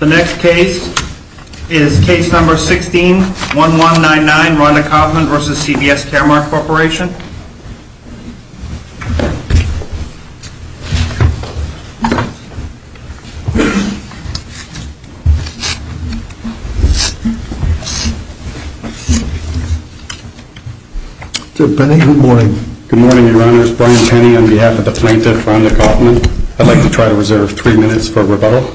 The next case is Case No. 16-1199, Rhonda Kaufman v. CVS Caremark Corp. Good morning, your honors. Brian Tenney on behalf of the plaintiff, Rhonda Kaufman. I'd like to try to reserve three minutes for rebuttal.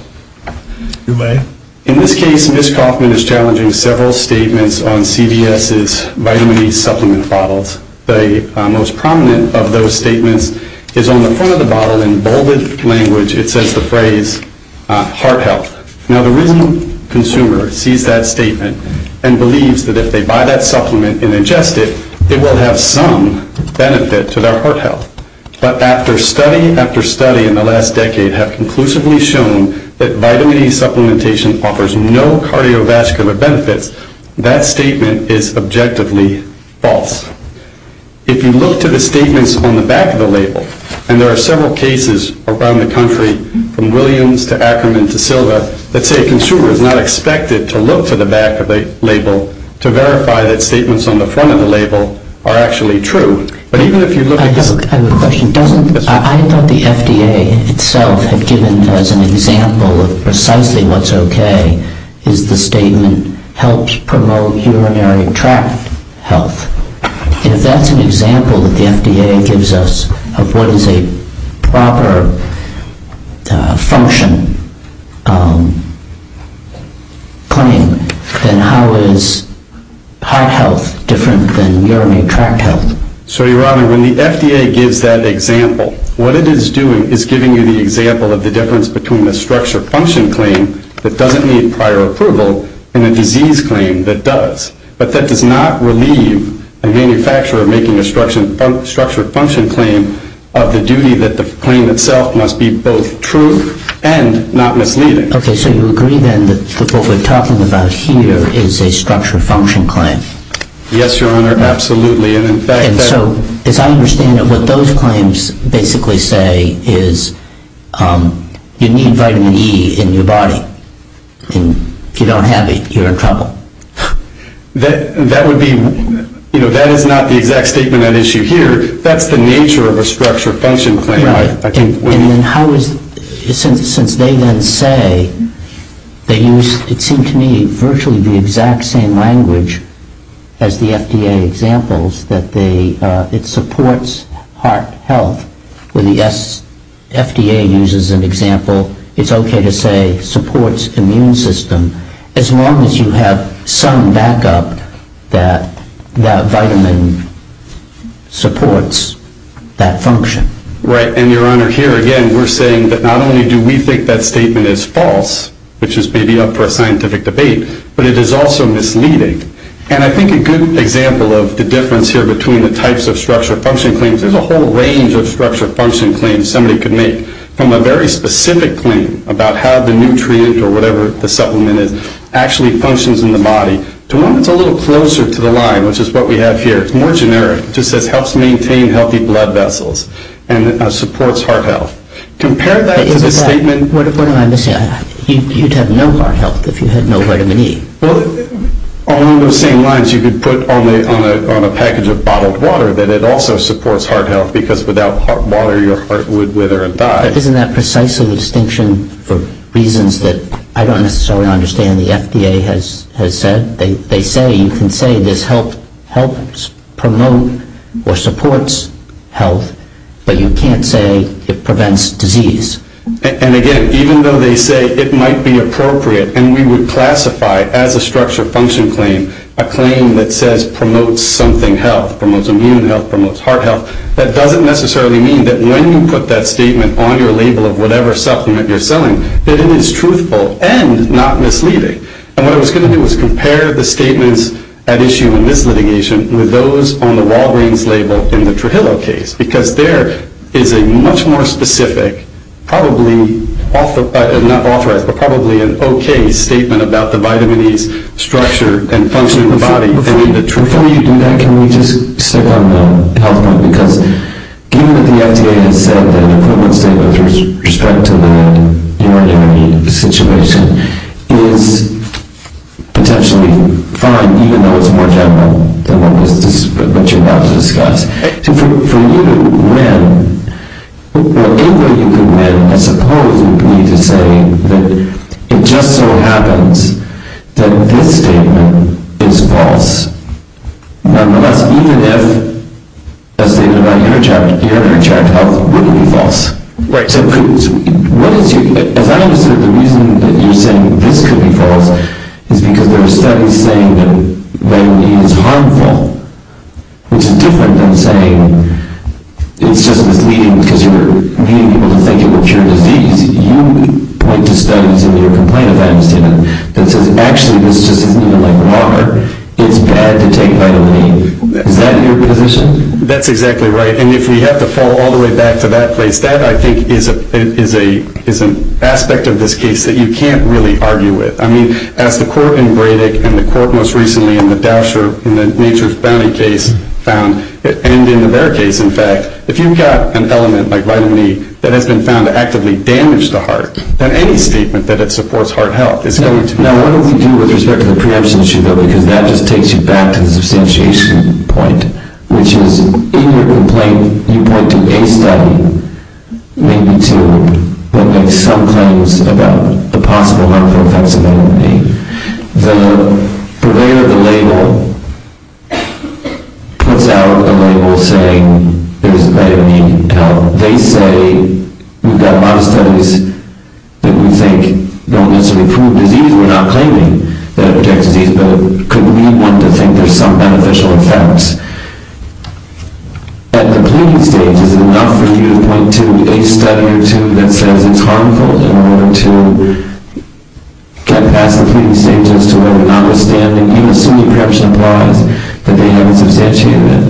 You may. In this case, Ms. Kaufman is challenging several statements on CVS's vitamin E supplement bottles. The most prominent of those statements is on the front of the bottle. In bolded language, it says the phrase, heart health. Now, the reasoning consumer sees that statement and believes that if they buy that supplement and ingest it, it will have some benefit to their heart health. But after study after study in the last decade have conclusively shown that vitamin E supplementation offers no cardiovascular benefits, that statement is objectively false. If you look to the statements on the back of the label, and there are several cases around the country, from Williams to Ackerman to Silva, that say a consumer is not expected to look to the back of the label to verify that statements on the front of the label are actually true. I have a question. I thought the FDA itself had given as an example of precisely what's okay is the statement helps promote urinary tract health. If that's an example that the FDA gives us of what is a proper function claim, then how is heart health different than urinary tract health? So, Your Honor, when the FDA gives that example, what it is doing is giving you the example of the difference between a structured function claim that doesn't need prior approval and a disease claim that does. But that does not relieve a manufacturer of making a structured function claim of the duty that the claim itself must be both true and not misleading. Okay, so you agree then that what we're talking about here is a structured function claim? Yes, Your Honor, absolutely. And so, as I understand it, what those claims basically say is you need vitamin E in your body. And if you don't have it, you're in trouble. That would be, you know, that is not the exact statement at issue here. That's the nature of a structured function claim. And then how is, since they then say they use, it seemed to me, virtually the exact same language as the FDA examples, that it supports heart health, where the FDA uses an example, it's okay to say supports immune system, as long as you have some backup that that vitamin supports that function. Right. And, Your Honor, here again we're saying that not only do we think that statement is false, which is maybe up for a scientific debate, but it is also misleading. And I think a good example of the difference here between the types of structured function claims, there's a whole range of structured function claims somebody could make from a very specific claim about how the nutrient or whatever the supplement is actually functions in the body, to one that's a little closer to the line, which is what we have here. It's more generic. It just says helps maintain healthy blood vessels and supports heart health. Compare that to the statement. What am I missing? You'd have no heart health if you had no vitamin E. Well, along those same lines, you could put on a package of bottled water that it also supports heart health, because without hot water your heart would wither and die. But isn't that precisely the distinction for reasons that I don't necessarily understand the FDA has said? They say you can say this helps promote or supports health, but you can't say it prevents disease. And, again, even though they say it might be appropriate and we would classify as a structured function claim a claim that says promotes something health, promotes immune health, promotes heart health, that doesn't necessarily mean that when you put that statement on your label of whatever supplement you're selling that it is truthful and not misleading. And what I was going to do was compare the statements at issue in this litigation with those on the Walgreens label in the Trujillo case, because there is a much more specific, probably not authorized, but probably an okay statement about the vitamin E's structure and function in the body than in the Trujillo. Before you do that, can we just stick on the health point? Because given that the FDA has said that an equivalent statement with respect to the vitamin E situation is potentially fine, even though it's more general than what you're about to discuss, for you to win, what you could win, I suppose, would be to say that it just so happens that this statement is false, even if a statement about your vitamin E tract health wouldn't be false. As I understand it, the reason that you're saying this could be false is because there are studies saying that vitamin E is harmful. It's different than saying it's just misleading because you're leading people to think it will cure disease. You point to studies in your complaint of that statement that says, actually, this just isn't like water. It's bad to take vitamin E. Is that your position? That's exactly right. And if we have to fall all the way back to that place, that, I think, is an aspect of this case that you can't really argue with. I mean, as the court in Breitach and the court most recently in the Doucher, in the Nature's Bounty case found, and in their case, in fact, if you've got an element like vitamin E that has been found to actively damage the heart, then any statement that it supports heart health is going to be false. Now, what do we do with respect to the preemption issue, though? Because that just takes you back to the substantiation point, which is, in your complaint, you point to a study, maybe two, that makes some claims about the possible harmful effects of vitamin E. The purveyor of the label puts out a label saying there's vitamin E. They say we've got a lot of studies that we think don't necessarily prove disease. We're not claiming that it protects disease, but it could mean one to think there's some beneficial effects. At the pleading stage, is it enough for you to point to a study or two that says it's harmful in order to get past the pleading stage as to whether or not we're standing, even assuming preemption applies, that they haven't substantiated that?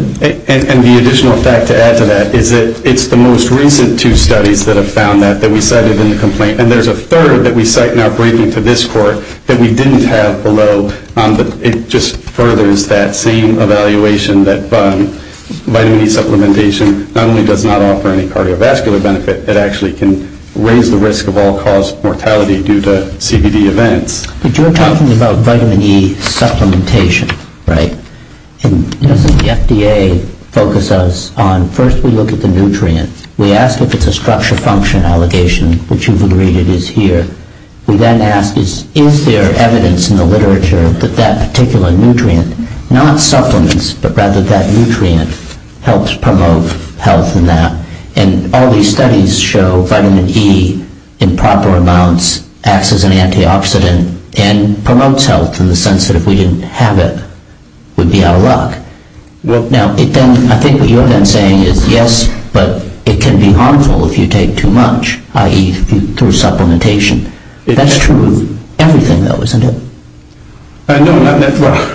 And the additional fact to add to that is that it's the most recent two studies that have found that, that we cited in the complaint, and there's a third that we cite now breaking to this court that we didn't have below, but it just furthers that same evaluation that vitamin E supplementation not only does not offer any cardiovascular benefit, it actually can raise the risk of all-cause mortality due to CBD events. But you're talking about vitamin E supplementation, right? And doesn't the FDA focus us on first we look at the nutrient. We ask if it's a structure function allegation, which you've agreed it is here. We then ask is there evidence in the literature that that particular nutrient, not supplements, but rather that nutrient, helps promote health in that. And all these studies show vitamin E in proper amounts, acts as an antioxidant, and promotes health in the sense that if we didn't have it, we'd be out of luck. Now, I think what you're then saying is yes, but it can be harmful if you take too much, i.e. through supplementation. That's true of everything, though, isn't it? No, not necessarily.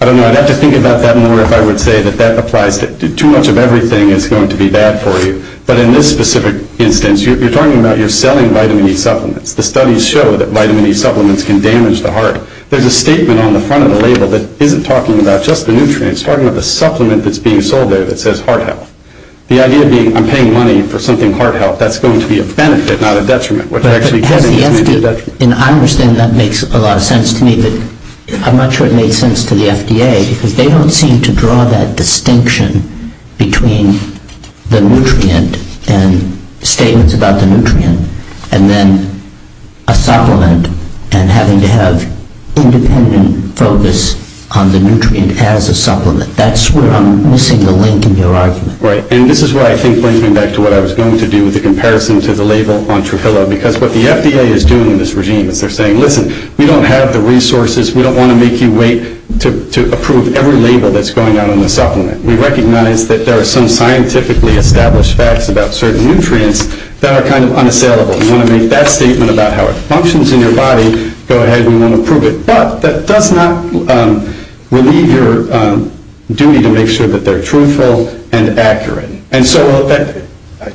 I don't know, I'd have to think about that more if I would say that that applies. Too much of everything is going to be bad for you. But in this specific instance, you're talking about you're selling vitamin E supplements. The studies show that vitamin E supplements can damage the heart. There's a statement on the front of the label that isn't talking about just the nutrients. It's talking about the supplement that's being sold there that says heart health. The idea being I'm paying money for something heart health. That's going to be a benefit, not a detriment. I understand that makes a lot of sense to me, but I'm not sure it makes sense to the FDA because they don't seem to draw that distinction between the nutrient and statements about the nutrient and then a supplement and having to have independent focus on the nutrient as a supplement. That's where I'm missing the link in your argument. This is what I think brings me back to what I was going to do with the comparison to the label on Trufillo because what the FDA is doing in this regime is they're saying, listen, we don't have the resources. We don't want to make you wait to approve every label that's going on in the supplement. We recognize that there are some scientifically established facts about certain nutrients that are kind of unassailable. We want to make that statement about how it functions in your body. Go ahead, we want to approve it. But that does not relieve your duty to make sure that they're truthful and accurate. And so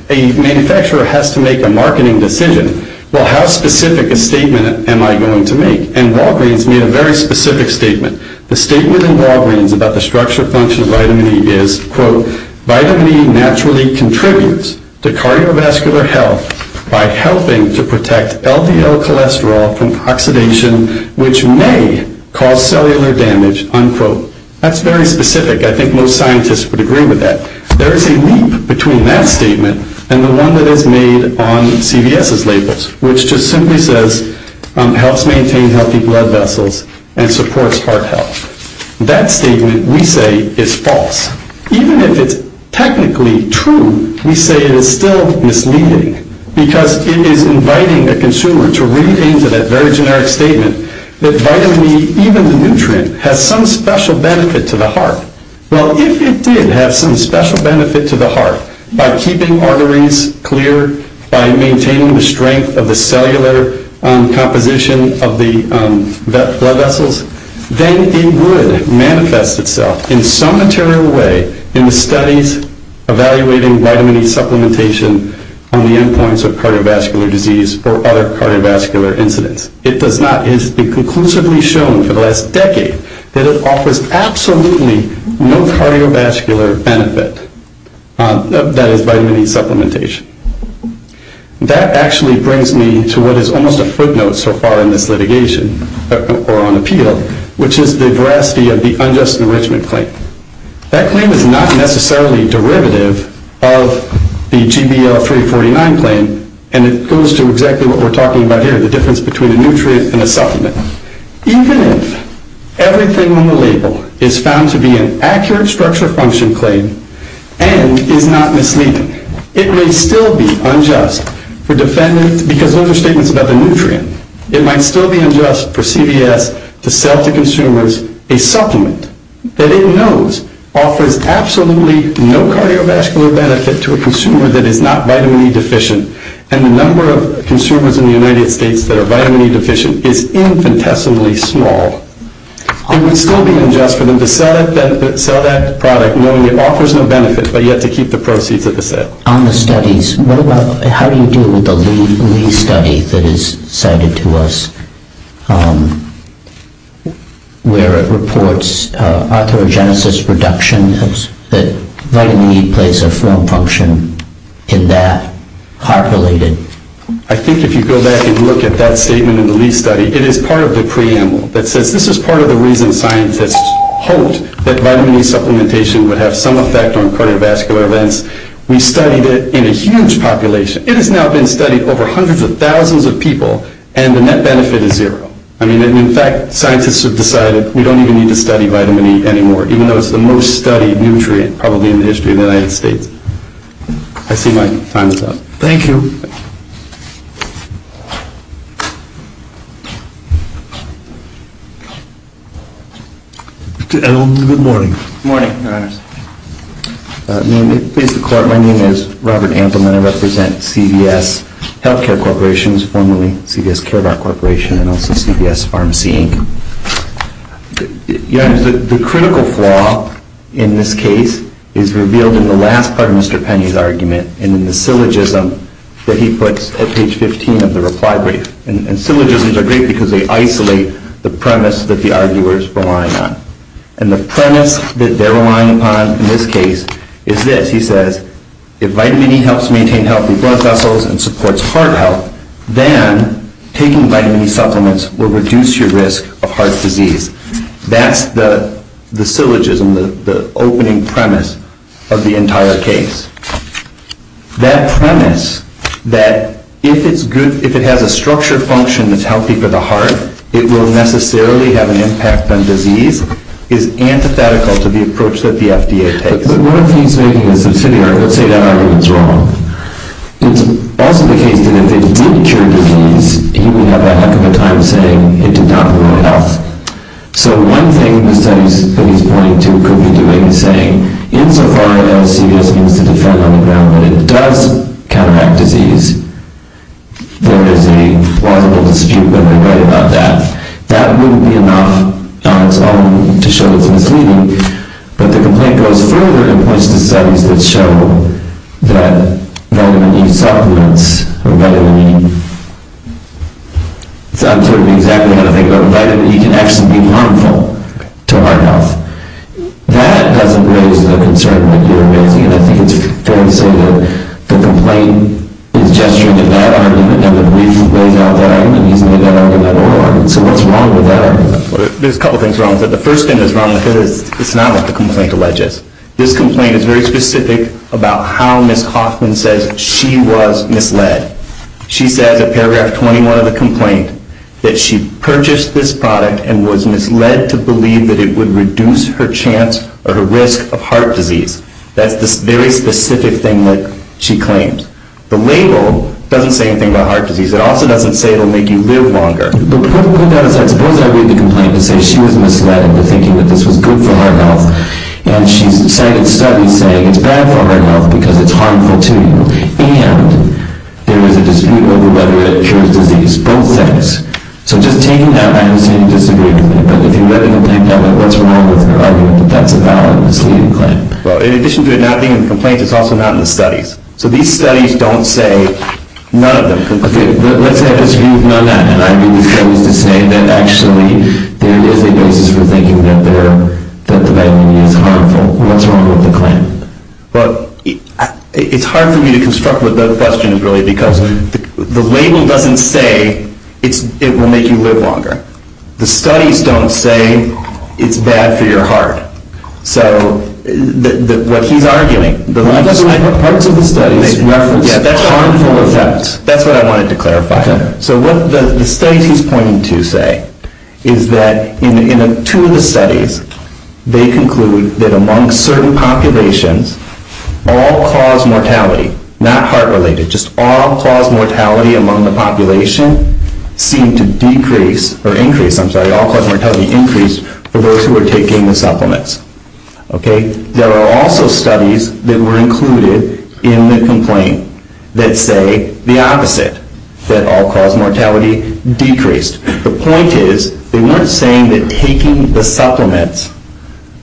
a manufacturer has to make a marketing decision. Well, how specific a statement am I going to make? And Walgreens made a very specific statement. The statement in Walgreens about the structure function of vitamin E is, quote, vitamin E naturally contributes to cardiovascular health by helping to protect LDL cholesterol from oxidation, which may cause cellular damage, unquote. That's very specific. I think most scientists would agree with that. There is a leap between that statement and the one that is made on CVS's labels, which just simply says helps maintain healthy blood vessels and supports heart health. That statement, we say, is false. Even if it's technically true, we say it is still misleading because it is inviting a consumer to read into that very generic statement that vitamin E, even the nutrient, has some special benefit to the heart. Well, if it did have some special benefit to the heart by keeping arteries clear, by maintaining the strength of the cellular composition of the blood vessels, then it would manifest itself in some material way in the studies evaluating vitamin E supplementation on the endpoints of cardiovascular disease or other cardiovascular incidents. It does not. It has been conclusively shown for the last decade that it offers absolutely no cardiovascular benefit, that is, vitamin E supplementation. That actually brings me to what is almost a footnote so far in this litigation or on appeal, which is the veracity of the unjust enrichment claim. That claim is not necessarily derivative of the GBL-349 claim, and it goes to exactly what we're talking about here, the difference between a nutrient and a supplement. Even if everything on the label is found to be an accurate structure function claim and is not misleading, it may still be unjust for defendants because those are statements about the nutrient. It might still be unjust for CVS to sell to consumers a supplement that it knows offers absolutely no cardiovascular benefit to a consumer that is not vitamin E deficient, and the number of consumers in the United States that are vitamin E deficient is infinitesimally small. It would still be unjust for them to sell that product knowing it offers no benefit but yet to keep the proceeds of the sale. On the studies, how do you deal with the Lee study that is cited to us where it reports arthrogenesis reduction, that vitamin E plays a form function in that, heart-related? I think if you go back and look at that statement in the Lee study, it is part of the preamble that says this is part of the reason scientists hoped that vitamin E supplementation would have some effect on cardiovascular events. We studied it in a huge population. It has now been studied over hundreds of thousands of people, and the net benefit is zero. I mean, in fact, scientists have decided we don't even need to study vitamin E anymore, even though it's the most studied nutrient probably in the history of the United States. I see my time is up. Good morning. Good morning, Your Honors. My name is Robert Ampleman. I represent CVS Healthcare Corporations, formerly CVS Care About Corporation, and also CVS Pharmacy, Inc. Your Honors, the critical flaw in this case is revealed in the last part of Mr. Penny's argument and in the syllogism that he puts at page 15 of the reply brief. And syllogisms are great because they isolate the premise that the arguer is relying on. And the premise that they're relying upon in this case is this. He says, if vitamin E helps maintain healthy blood vessels and supports heart health, then taking vitamin E supplements will reduce your risk of heart disease. That's the syllogism, the opening premise of the entire case. That premise that if it has a structured function that's healthy for the heart, it will necessarily have an impact on disease is antithetical to the approach that the FDA takes. But what if he's making a subsidiary? Let's say that argument's wrong. It's also the case that if it did cure disease, he would have a heck of a time saying it did not ruin health. So one thing in the studies that he's pointing to could be doing is saying, insofar as CVS needs to defend on the ground that it does counteract disease, there is a plausible dispute with everybody about that. That wouldn't be enough on its own to show it's misleading. But the complaint goes further and points to studies that show that vitamin E supplements, or vitamin E, I'm sort of exactly how to think about it, vitamin E can actually be harmful to heart health. That doesn't raise the concern that you're raising. And I think it's fair to say that the complaint is gesturing to that argument rather than raising that argument at all. So what's wrong with that argument? There's a couple things wrong. The first thing that's wrong with it is it's not what the complaint alleges. This complaint is very specific about how Ms. Hoffman says she was misled. She says in paragraph 21 of the complaint that she purchased this product and was misled to believe that it would reduce her chance or her risk of heart disease. That's this very specific thing that she claimed. The label doesn't say anything about heart disease. It also doesn't say it will make you live longer. But put that aside. Suppose I read the complaint and say she was misled to think that this was good for heart health and she's cited studies saying it's bad for heart health because it's harmful to you and there is a dispute over whether it cures disease, both things. So just taking that, I understand you disagree with the complaint. But if you read the complaint now, what's wrong with your argument that that's a valid misleading claim? Well, in addition to it not being in the complaint, it's also not in the studies. So these studies don't say none of them. Okay, let's say I disagree with none of that and I agree with Ms. Hoffman's disdain that actually there is a basis for thinking that the vitamin E is harmful. What's wrong with the claim? Well, it's hard for me to construct what the question is really because the label doesn't say it will make you live longer. The studies don't say it's bad for your heart. So what he's arguing, the parts of the studies reference harmful effects. That's what I wanted to clarify. So what the studies he's pointing to say is that in two of the studies, they conclude that among certain populations, all-cause mortality, not heart-related, just all-cause mortality among the population seemed to decrease or increase, I'm sorry, all-cause mortality increased for those who were taking the supplements. There are also studies that were included in the complaint that say the opposite, that all-cause mortality decreased. The point is they weren't saying that taking the supplements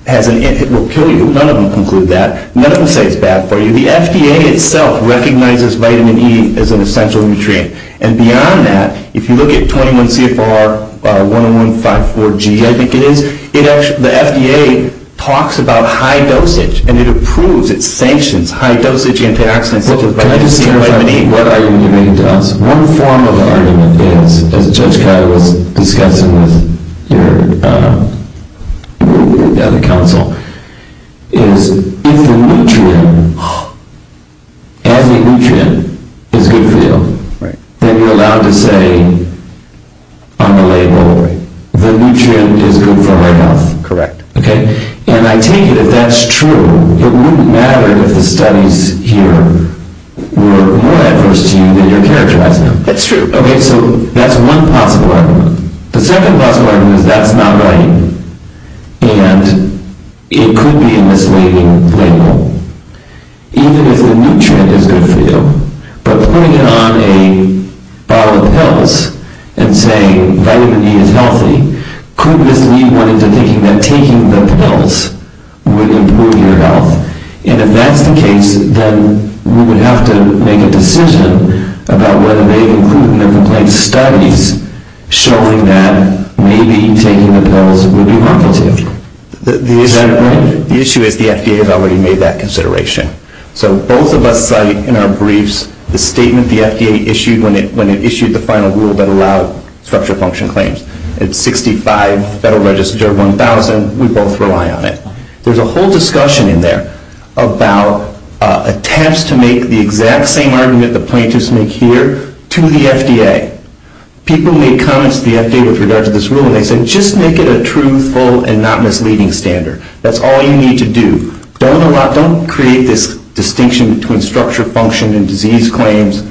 will kill you. None of them conclude that. None of them say it's bad for you. The FDA itself recognizes vitamin E as an essential nutrient. And beyond that, if you look at 21 CFR 1154G, I think it is, the FDA talks about high dosage and it approves, it sanctions high dosage antioxidants such as vitamin E. Can I just clarify what argument you're making to us? One form of argument is, as Judge Kyle was discussing with the other counsel, is if the nutrient, as a nutrient, is good for you, then you're allowed to say on the label, the nutrient is good for my health. Correct. And I take it if that's true, it wouldn't matter if the studies here were more adverse to you than you're characterizing them. That's true. Okay, so that's one possible argument. The second possible argument is that's not right. And it could be a misleading label. Even if the nutrient is good for you. But putting it on a bottle of pills and saying vitamin E is healthy could mislead one into thinking that taking the pills would improve your health. And if that's the case, then we would have to make a decision about whether they've included in their complaint studies showing that maybe taking the pills would be helpful to you. The issue is the FDA has already made that consideration. So both of us cite in our briefs the statement the FDA issued when it issued the final rule that allowed structure function claims. It's 65 Federal Register 1000. We both rely on it. There's a whole discussion in there about attempts to make the exact same argument the plaintiffs make here to the FDA. People make comments to the FDA with regard to this rule, and they say just make it a truthful and not misleading standard. That's all you need to do. Don't create this distinction between structure function and disease claims.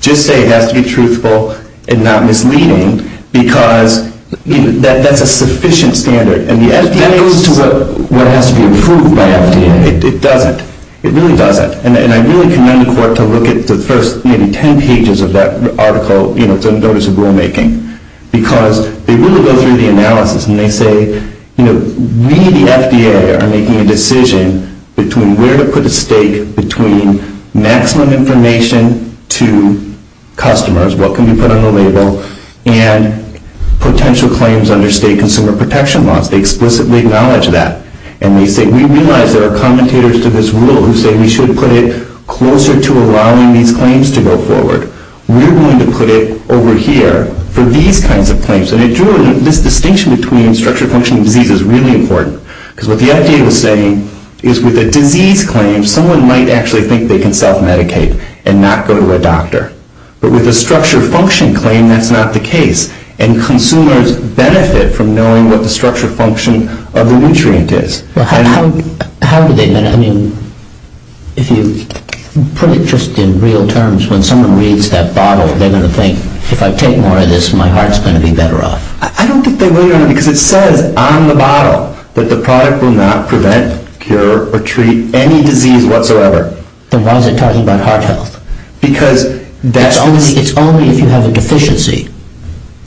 Just say it has to be truthful and not misleading because that's a sufficient standard. And that goes to what has to be approved by FDA. It doesn't. It really doesn't. And I really commend the court to look at the first maybe 10 pages of that article to notice the rulemaking because they really go through the analysis, and they say we, the FDA, are making a decision between where to put a stake, between maximum information to customers, what can be put on the label, and potential claims under state consumer protection laws. They explicitly acknowledge that. And they say we realize there are commentators to this rule who say we should put it closer to allowing these claims to go forward. We're going to put it over here for these kinds of claims. And this distinction between structure function and disease is really important because what the FDA was saying is with a disease claim, someone might actually think they can self-medicate and not go to a doctor. But with a structure function claim, that's not the case, and consumers benefit from knowing what the structure function of the nutrient is. How do they benefit? I mean, if you put it just in real terms, when someone reads that bottle, they're going to think, if I take more of this, my heart's going to be better off. I don't think they will, because it says on the bottle that the product will not prevent, cure, or treat any disease whatsoever. Then why is it talking about heart health? It's only if you have a deficiency.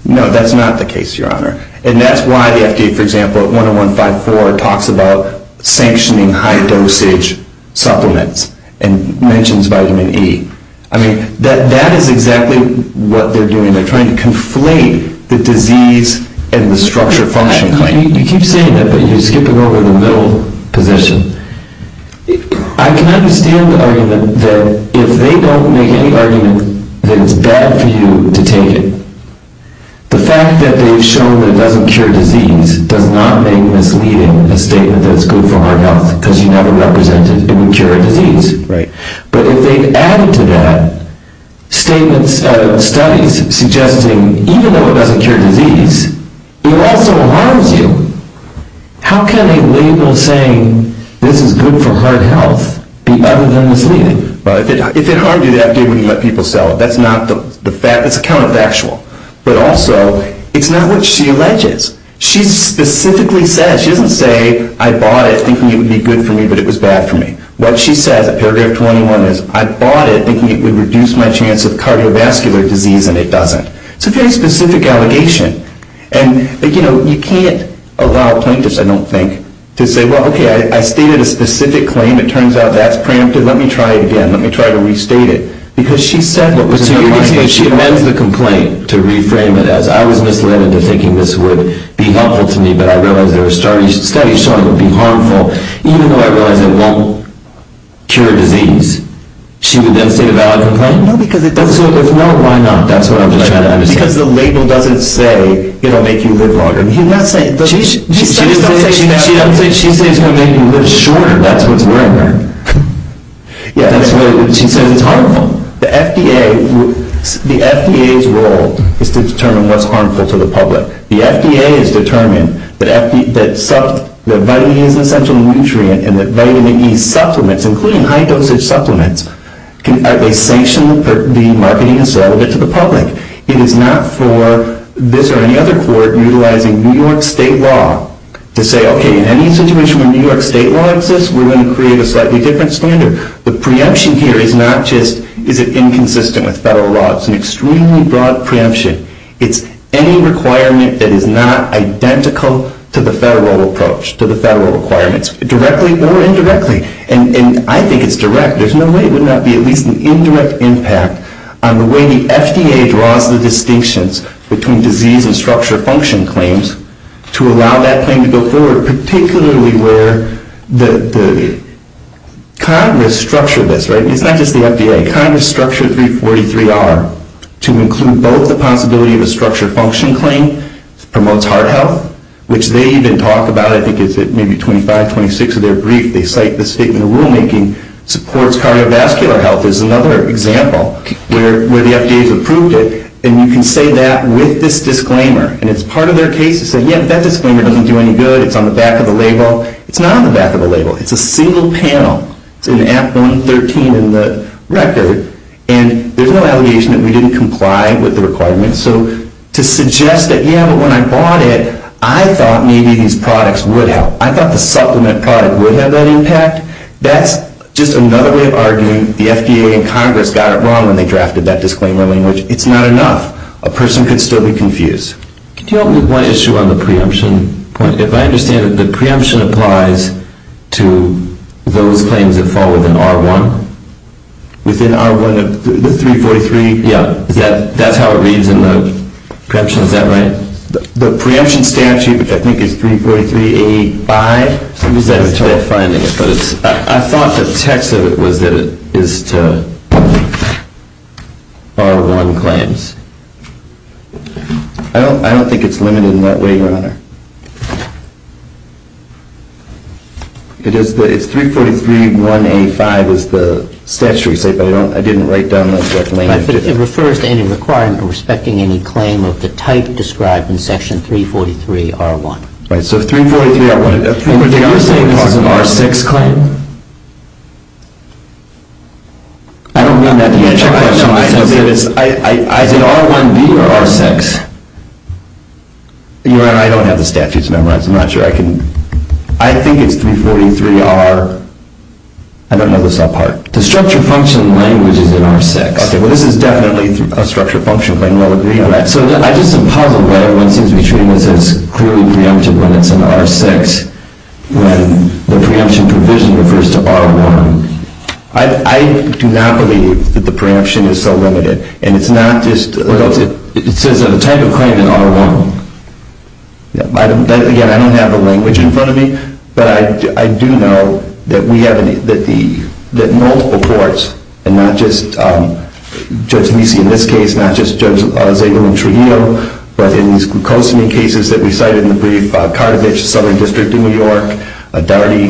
No, that's not the case, Your Honor. And that's why the FDA, for example, at 101.54, talks about sanctioning high dosage supplements and mentions vitamin E. I mean, that is exactly what they're doing. They're trying to conflate the disease and the structure function claim. You keep saying that, but you're skipping over the middle position. I can understand the argument that if they don't make any argument that it's bad for you to take it. The fact that they've shown that it doesn't cure disease does not make misleading a statement that it's good for heart health, because you never represented it would cure a disease. But if they've added to that studies suggesting, even though it doesn't cure disease, it also harms you. How can a label saying this is good for heart health be other than misleading? If it harmed you, the FDA wouldn't let people sell it. That's a counterfactual. But also, it's not what she alleges. She specifically says, she doesn't say, I bought it thinking it would be good for me, but it was bad for me. What she says at paragraph 21 is, I bought it thinking it would reduce my chance of cardiovascular disease, and it doesn't. It's a very specific allegation. You can't allow plaintiffs, I don't think, to say, well, okay, I stated a specific claim. It turns out that's prampted. Let me try it again. Let me try to restate it. Because she said what was in her mind. So you're saying she amends the complaint to reframe it as, I was misled into thinking this would be helpful to me, but I realized there were studies showing it would be harmful, even though I realized it won't cure disease. She would then say a valid complaint? No, because it doesn't. If no, why not? That's what I'm trying to understand. Because the label doesn't say it will make you live longer. She doesn't say it's going to make you live shorter. That's what's worrying her. She says it's harmful. The FDA's role is to determine what's harmful to the public. The FDA has determined that vitamin E is an essential nutrient and that vitamin E supplements, including high dosage supplements, are sanctioned for being marketed as relevant to the public. It is not for this or any other court utilizing New York State law to say, okay, in any situation where New York State law exists, we're going to create a slightly different standard. The preemption here is not just is it inconsistent with federal law. It's an extremely broad preemption. It's any requirement that is not identical to the federal approach, to the federal requirements, directly or indirectly. And I think it's direct. There's no way it would not be at least an indirect impact on the way the FDA draws the distinctions between disease and structure function claims to allow that claim to go forward, particularly where the Congress structured this, right? It's not just the FDA. Congress structured 343R to include both the possibility of a structure function claim, promotes heart health, which they even talk about. I think it's maybe 25, 26 of their brief. They cite the statement in the rulemaking, supports cardiovascular health is another example where the FDA has approved it. And you can say that with this disclaimer. And it's part of their case to say, yeah, that disclaimer doesn't do any good. It's on the back of the label. It's not on the back of the label. It's a single panel. It's in Act 113 in the record. And there's no allegation that we didn't comply with the requirements. So to suggest that, yeah, but when I bought it, I thought maybe these products would help. I thought the supplement product would have that impact. That's just another way of arguing the FDA and Congress got it wrong when they drafted that disclaimer language. It's not enough. A person could still be confused. Can you help me with one issue on the preemption point? If I understand it, the preemption applies to those claims that fall within R1? Within R1 of the 343? Yeah. That's how it reads in the preemption. Is that right? The preemption statute, which I think is 343A5, I thought the text of it was that it is to R1 claims. I don't think it's limited in that way, Your Honor. It's 343A5 is the statutory state, but I didn't write down that. It refers to any requirement respecting any claim of the type described in Section 343R1. You're saying this is an R6 claim? I don't mean that to answer your question. Is it R1B or R6? Your Honor, I don't have the statute memorized. I'm not sure I can. I think it's 343R. I don't know the subpart. The structure function language is in R6. Okay. Well, this is definitely a structure function claim. We'll agree on that. So I just am puzzled why everyone seems to be treating this as clearly preempted when it's in R6, when the preemption provision refers to R1. I do not believe that the preemption is so limited. And it's not just the type of claim in R1. Again, I don't have the language in front of me, but I do know that we have multiple courts, and not just Judge Meese in this case, not just Judge Zegel and Trujillo, but in these glucosamine cases that we cited in the brief, Carthage Southern District in New York, Doherty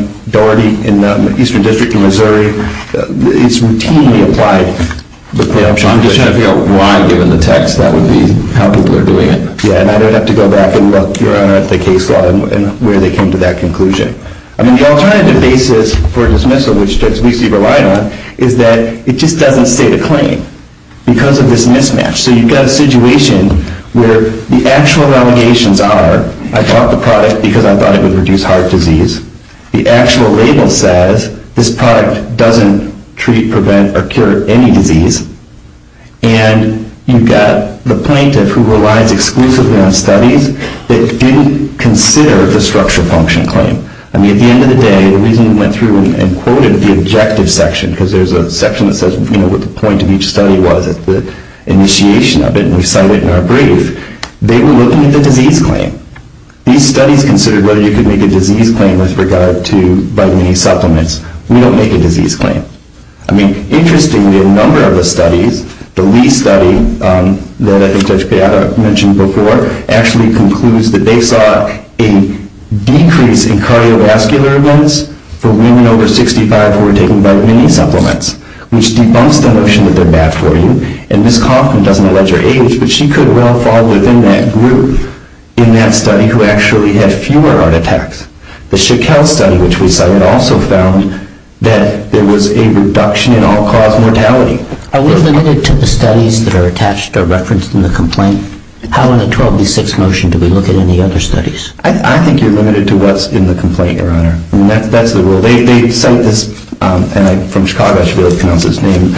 in the Eastern District in Missouri, it's routinely applied. I'm just trying to figure out why, given the text, that would be how people are doing it. Yeah, and I'd have to go back and look, Your Honor, at the case law and where they came to that conclusion. I mean, the alternative basis for dismissal, which Judge Meese relied on, is that it just doesn't state a claim because of this mismatch. So you've got a situation where the actual allegations are, I bought the product because I thought it would reduce heart disease. The actual label says this product doesn't treat, prevent, or cure any disease. And you've got the plaintiff, who relies exclusively on studies, that didn't consider the structural function claim. I mean, at the end of the day, the reason we went through and quoted the objective section, because there's a section that says what the point of each study was at the initiation of it, and we cite it in our brief, they were looking at the disease claim. These studies considered whether you could make a disease claim with regard to vitamin E supplements. We don't make a disease claim. I mean, interestingly, a number of the studies, the Lee study that I think Judge Beata mentioned before, actually concludes that they saw a decrease in cardiovascular events for women over 65 who were taking vitamin E supplements, which debunks the notion that they're bad for you. And Ms. Coffman doesn't allege her age, but she could well fall within that group in that study who actually had fewer heart attacks. The Shackel study, which we cited, also found that there was a reduction in all-cause mortality. Are we limited to the studies that are attached or referenced in the complaint? How in the 12D6 motion do we look at any other studies? I think you're limited to what's in the complaint, Your Honor. I mean, that's the rule. They cite this, and I'm from Chicago, I should be able to pronounce his name,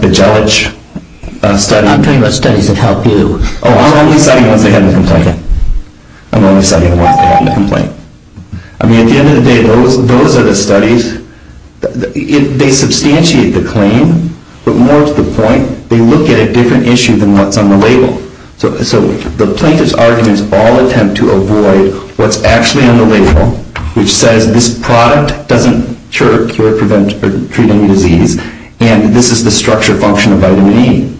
Bejelich study. I'm talking about studies that help you. Oh, I'm only citing the ones they have in the complaint. I'm only citing the ones they have in the complaint. I mean, at the end of the day, those are the studies. They substantiate the claim, but more to the point, they look at a different issue than what's on the label. So the plaintiff's arguments all attempt to avoid what's actually on the label, which says this product doesn't cure, prevent, or treat any disease, and this is the structure function of vitamin E.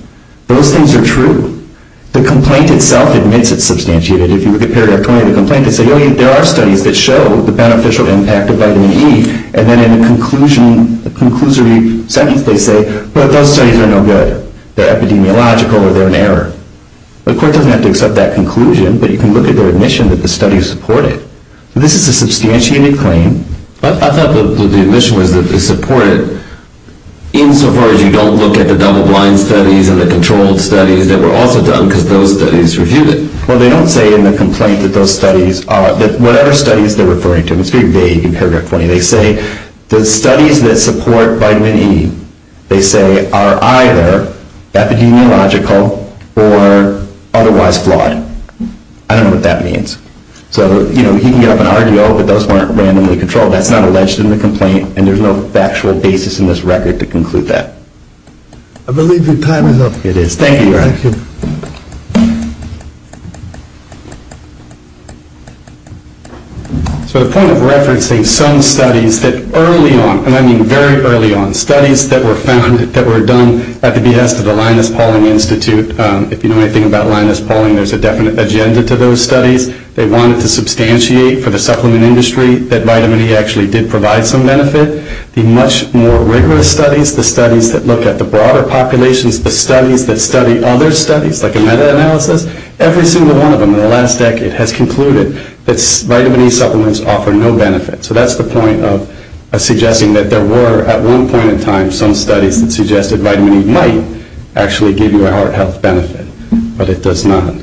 Those things are true. The complaint itself admits it's substantiated. If you look at Paragraph 20 of the complaint, it says, there are studies that show the beneficial impact of vitamin E, and then in the conclusion, the conclusory sentence, they say, but those studies are no good. They're epidemiological, or they're an error. The court doesn't have to accept that conclusion, but you can look at their admission that the studies support it. This is a substantiated claim. I thought the admission was that they support it, insofar as you don't look at the double-blind studies and the controlled studies that were also done because those studies reviewed it. Well, they don't say in the complaint that those studies are, that whatever studies they're referring to, and it's very vague in Paragraph 20, they say the studies that support vitamin E, they say, are either epidemiological or otherwise flawed. I don't know what that means. So, you know, he can get up and argue, oh, but those weren't randomly controlled. That's not alleged in the complaint, and there's no factual basis in this record to conclude that. I believe your time is up. It is. Thank you. So the point of referencing some studies that early on, and I mean very early on, studies that were found that were done at the behest of the Linus Pauling Institute. If you know anything about Linus Pauling, there's a definite agenda to those studies. They wanted to substantiate for the supplement industry that vitamin E actually did provide some benefit. The much more rigorous studies, the studies that look at the broader populations, the studies that study other studies, like a meta-analysis, every single one of them in the last decade has concluded that vitamin E supplements offer no benefit. So that's the point of suggesting that there were, at one point in time, some studies that suggested vitamin E might actually give you a heart health benefit, but it does not.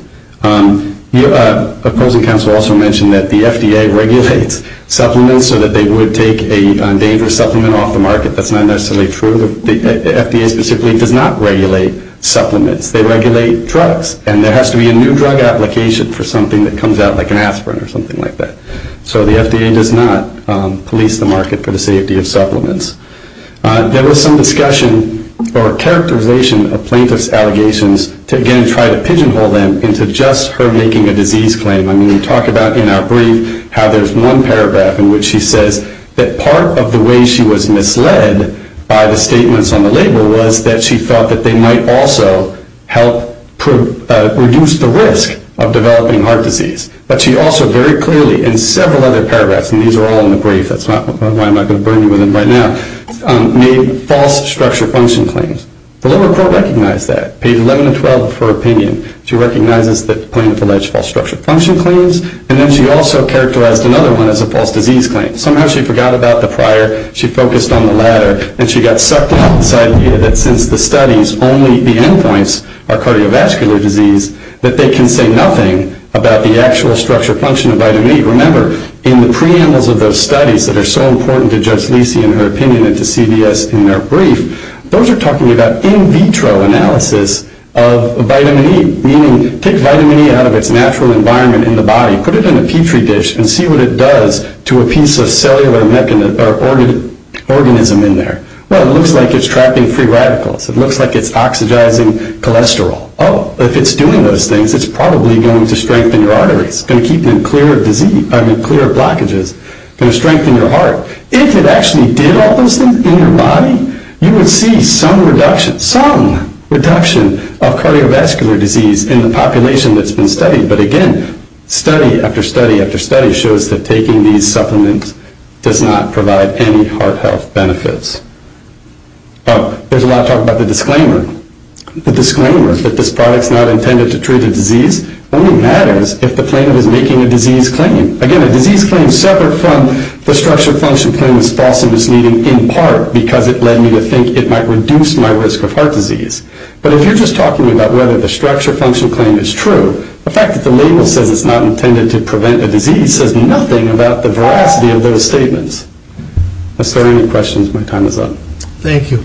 The opposing counsel also mentioned that the FDA regulates supplements so that they would take a dangerous supplement off the market. That's not necessarily true. The FDA specifically does not regulate supplements. They regulate drugs, and there has to be a new drug application for something that comes out like an aspirin or something like that. So the FDA does not police the market for the safety of supplements. There was some discussion or characterization of plaintiff's allegations to again try to pigeonhole them into just her making a disease claim. I mean, we talk about in our brief how there's one paragraph in which she says that part of the way she was misled by the statements on the label was that she thought that they might also help reduce the risk of developing heart disease. But she also very clearly, in several other paragraphs, and these are all in the brief, that's why I'm not going to burn you with them right now, made false structure function claims. The lower court recognized that. Page 11 and 12 of her opinion, she recognizes that plaintiff alleged false structure function claims, and then she also characterized another one as a false disease claim. Somehow she forgot about the prior. She focused on the latter, and she got sucked into this idea that since the studies only the end points are cardiovascular disease, that they can say nothing about the actual structure function of vitamin E. Remember, in the preambles of those studies that are so important to Judge Lisi and her opinion and to CVS in their brief, those are talking about in vitro analysis of vitamin E, meaning take vitamin E out of its natural environment in the body, put it in a petri dish, and see what it does to a piece of cellular organism in there. Well, it looks like it's trapping free radicals. It looks like it's oxidizing cholesterol. Oh, if it's doing those things, it's probably going to strengthen your arteries. It's going to keep them clear of blockages. It's going to strengthen your heart. If it actually did all those things in your body, you would see some reduction, some reduction, of cardiovascular disease in the population that's been studied. But again, study after study after study shows that taking these supplements does not provide any heart health benefits. Oh, there's a lot of talk about the disclaimer. The disclaimer that this product's not intended to treat a disease only matters if the claimant is making a disease claim. Again, a disease claim separate from the structure function claim is false and misleading in part because it led me to think it might reduce my risk of heart disease. But if you're just talking about whether the structure function claim is true, the fact that the label says it's not intended to prevent a disease says nothing about the veracity of those statements. Are there any questions? My time is up. Thank you.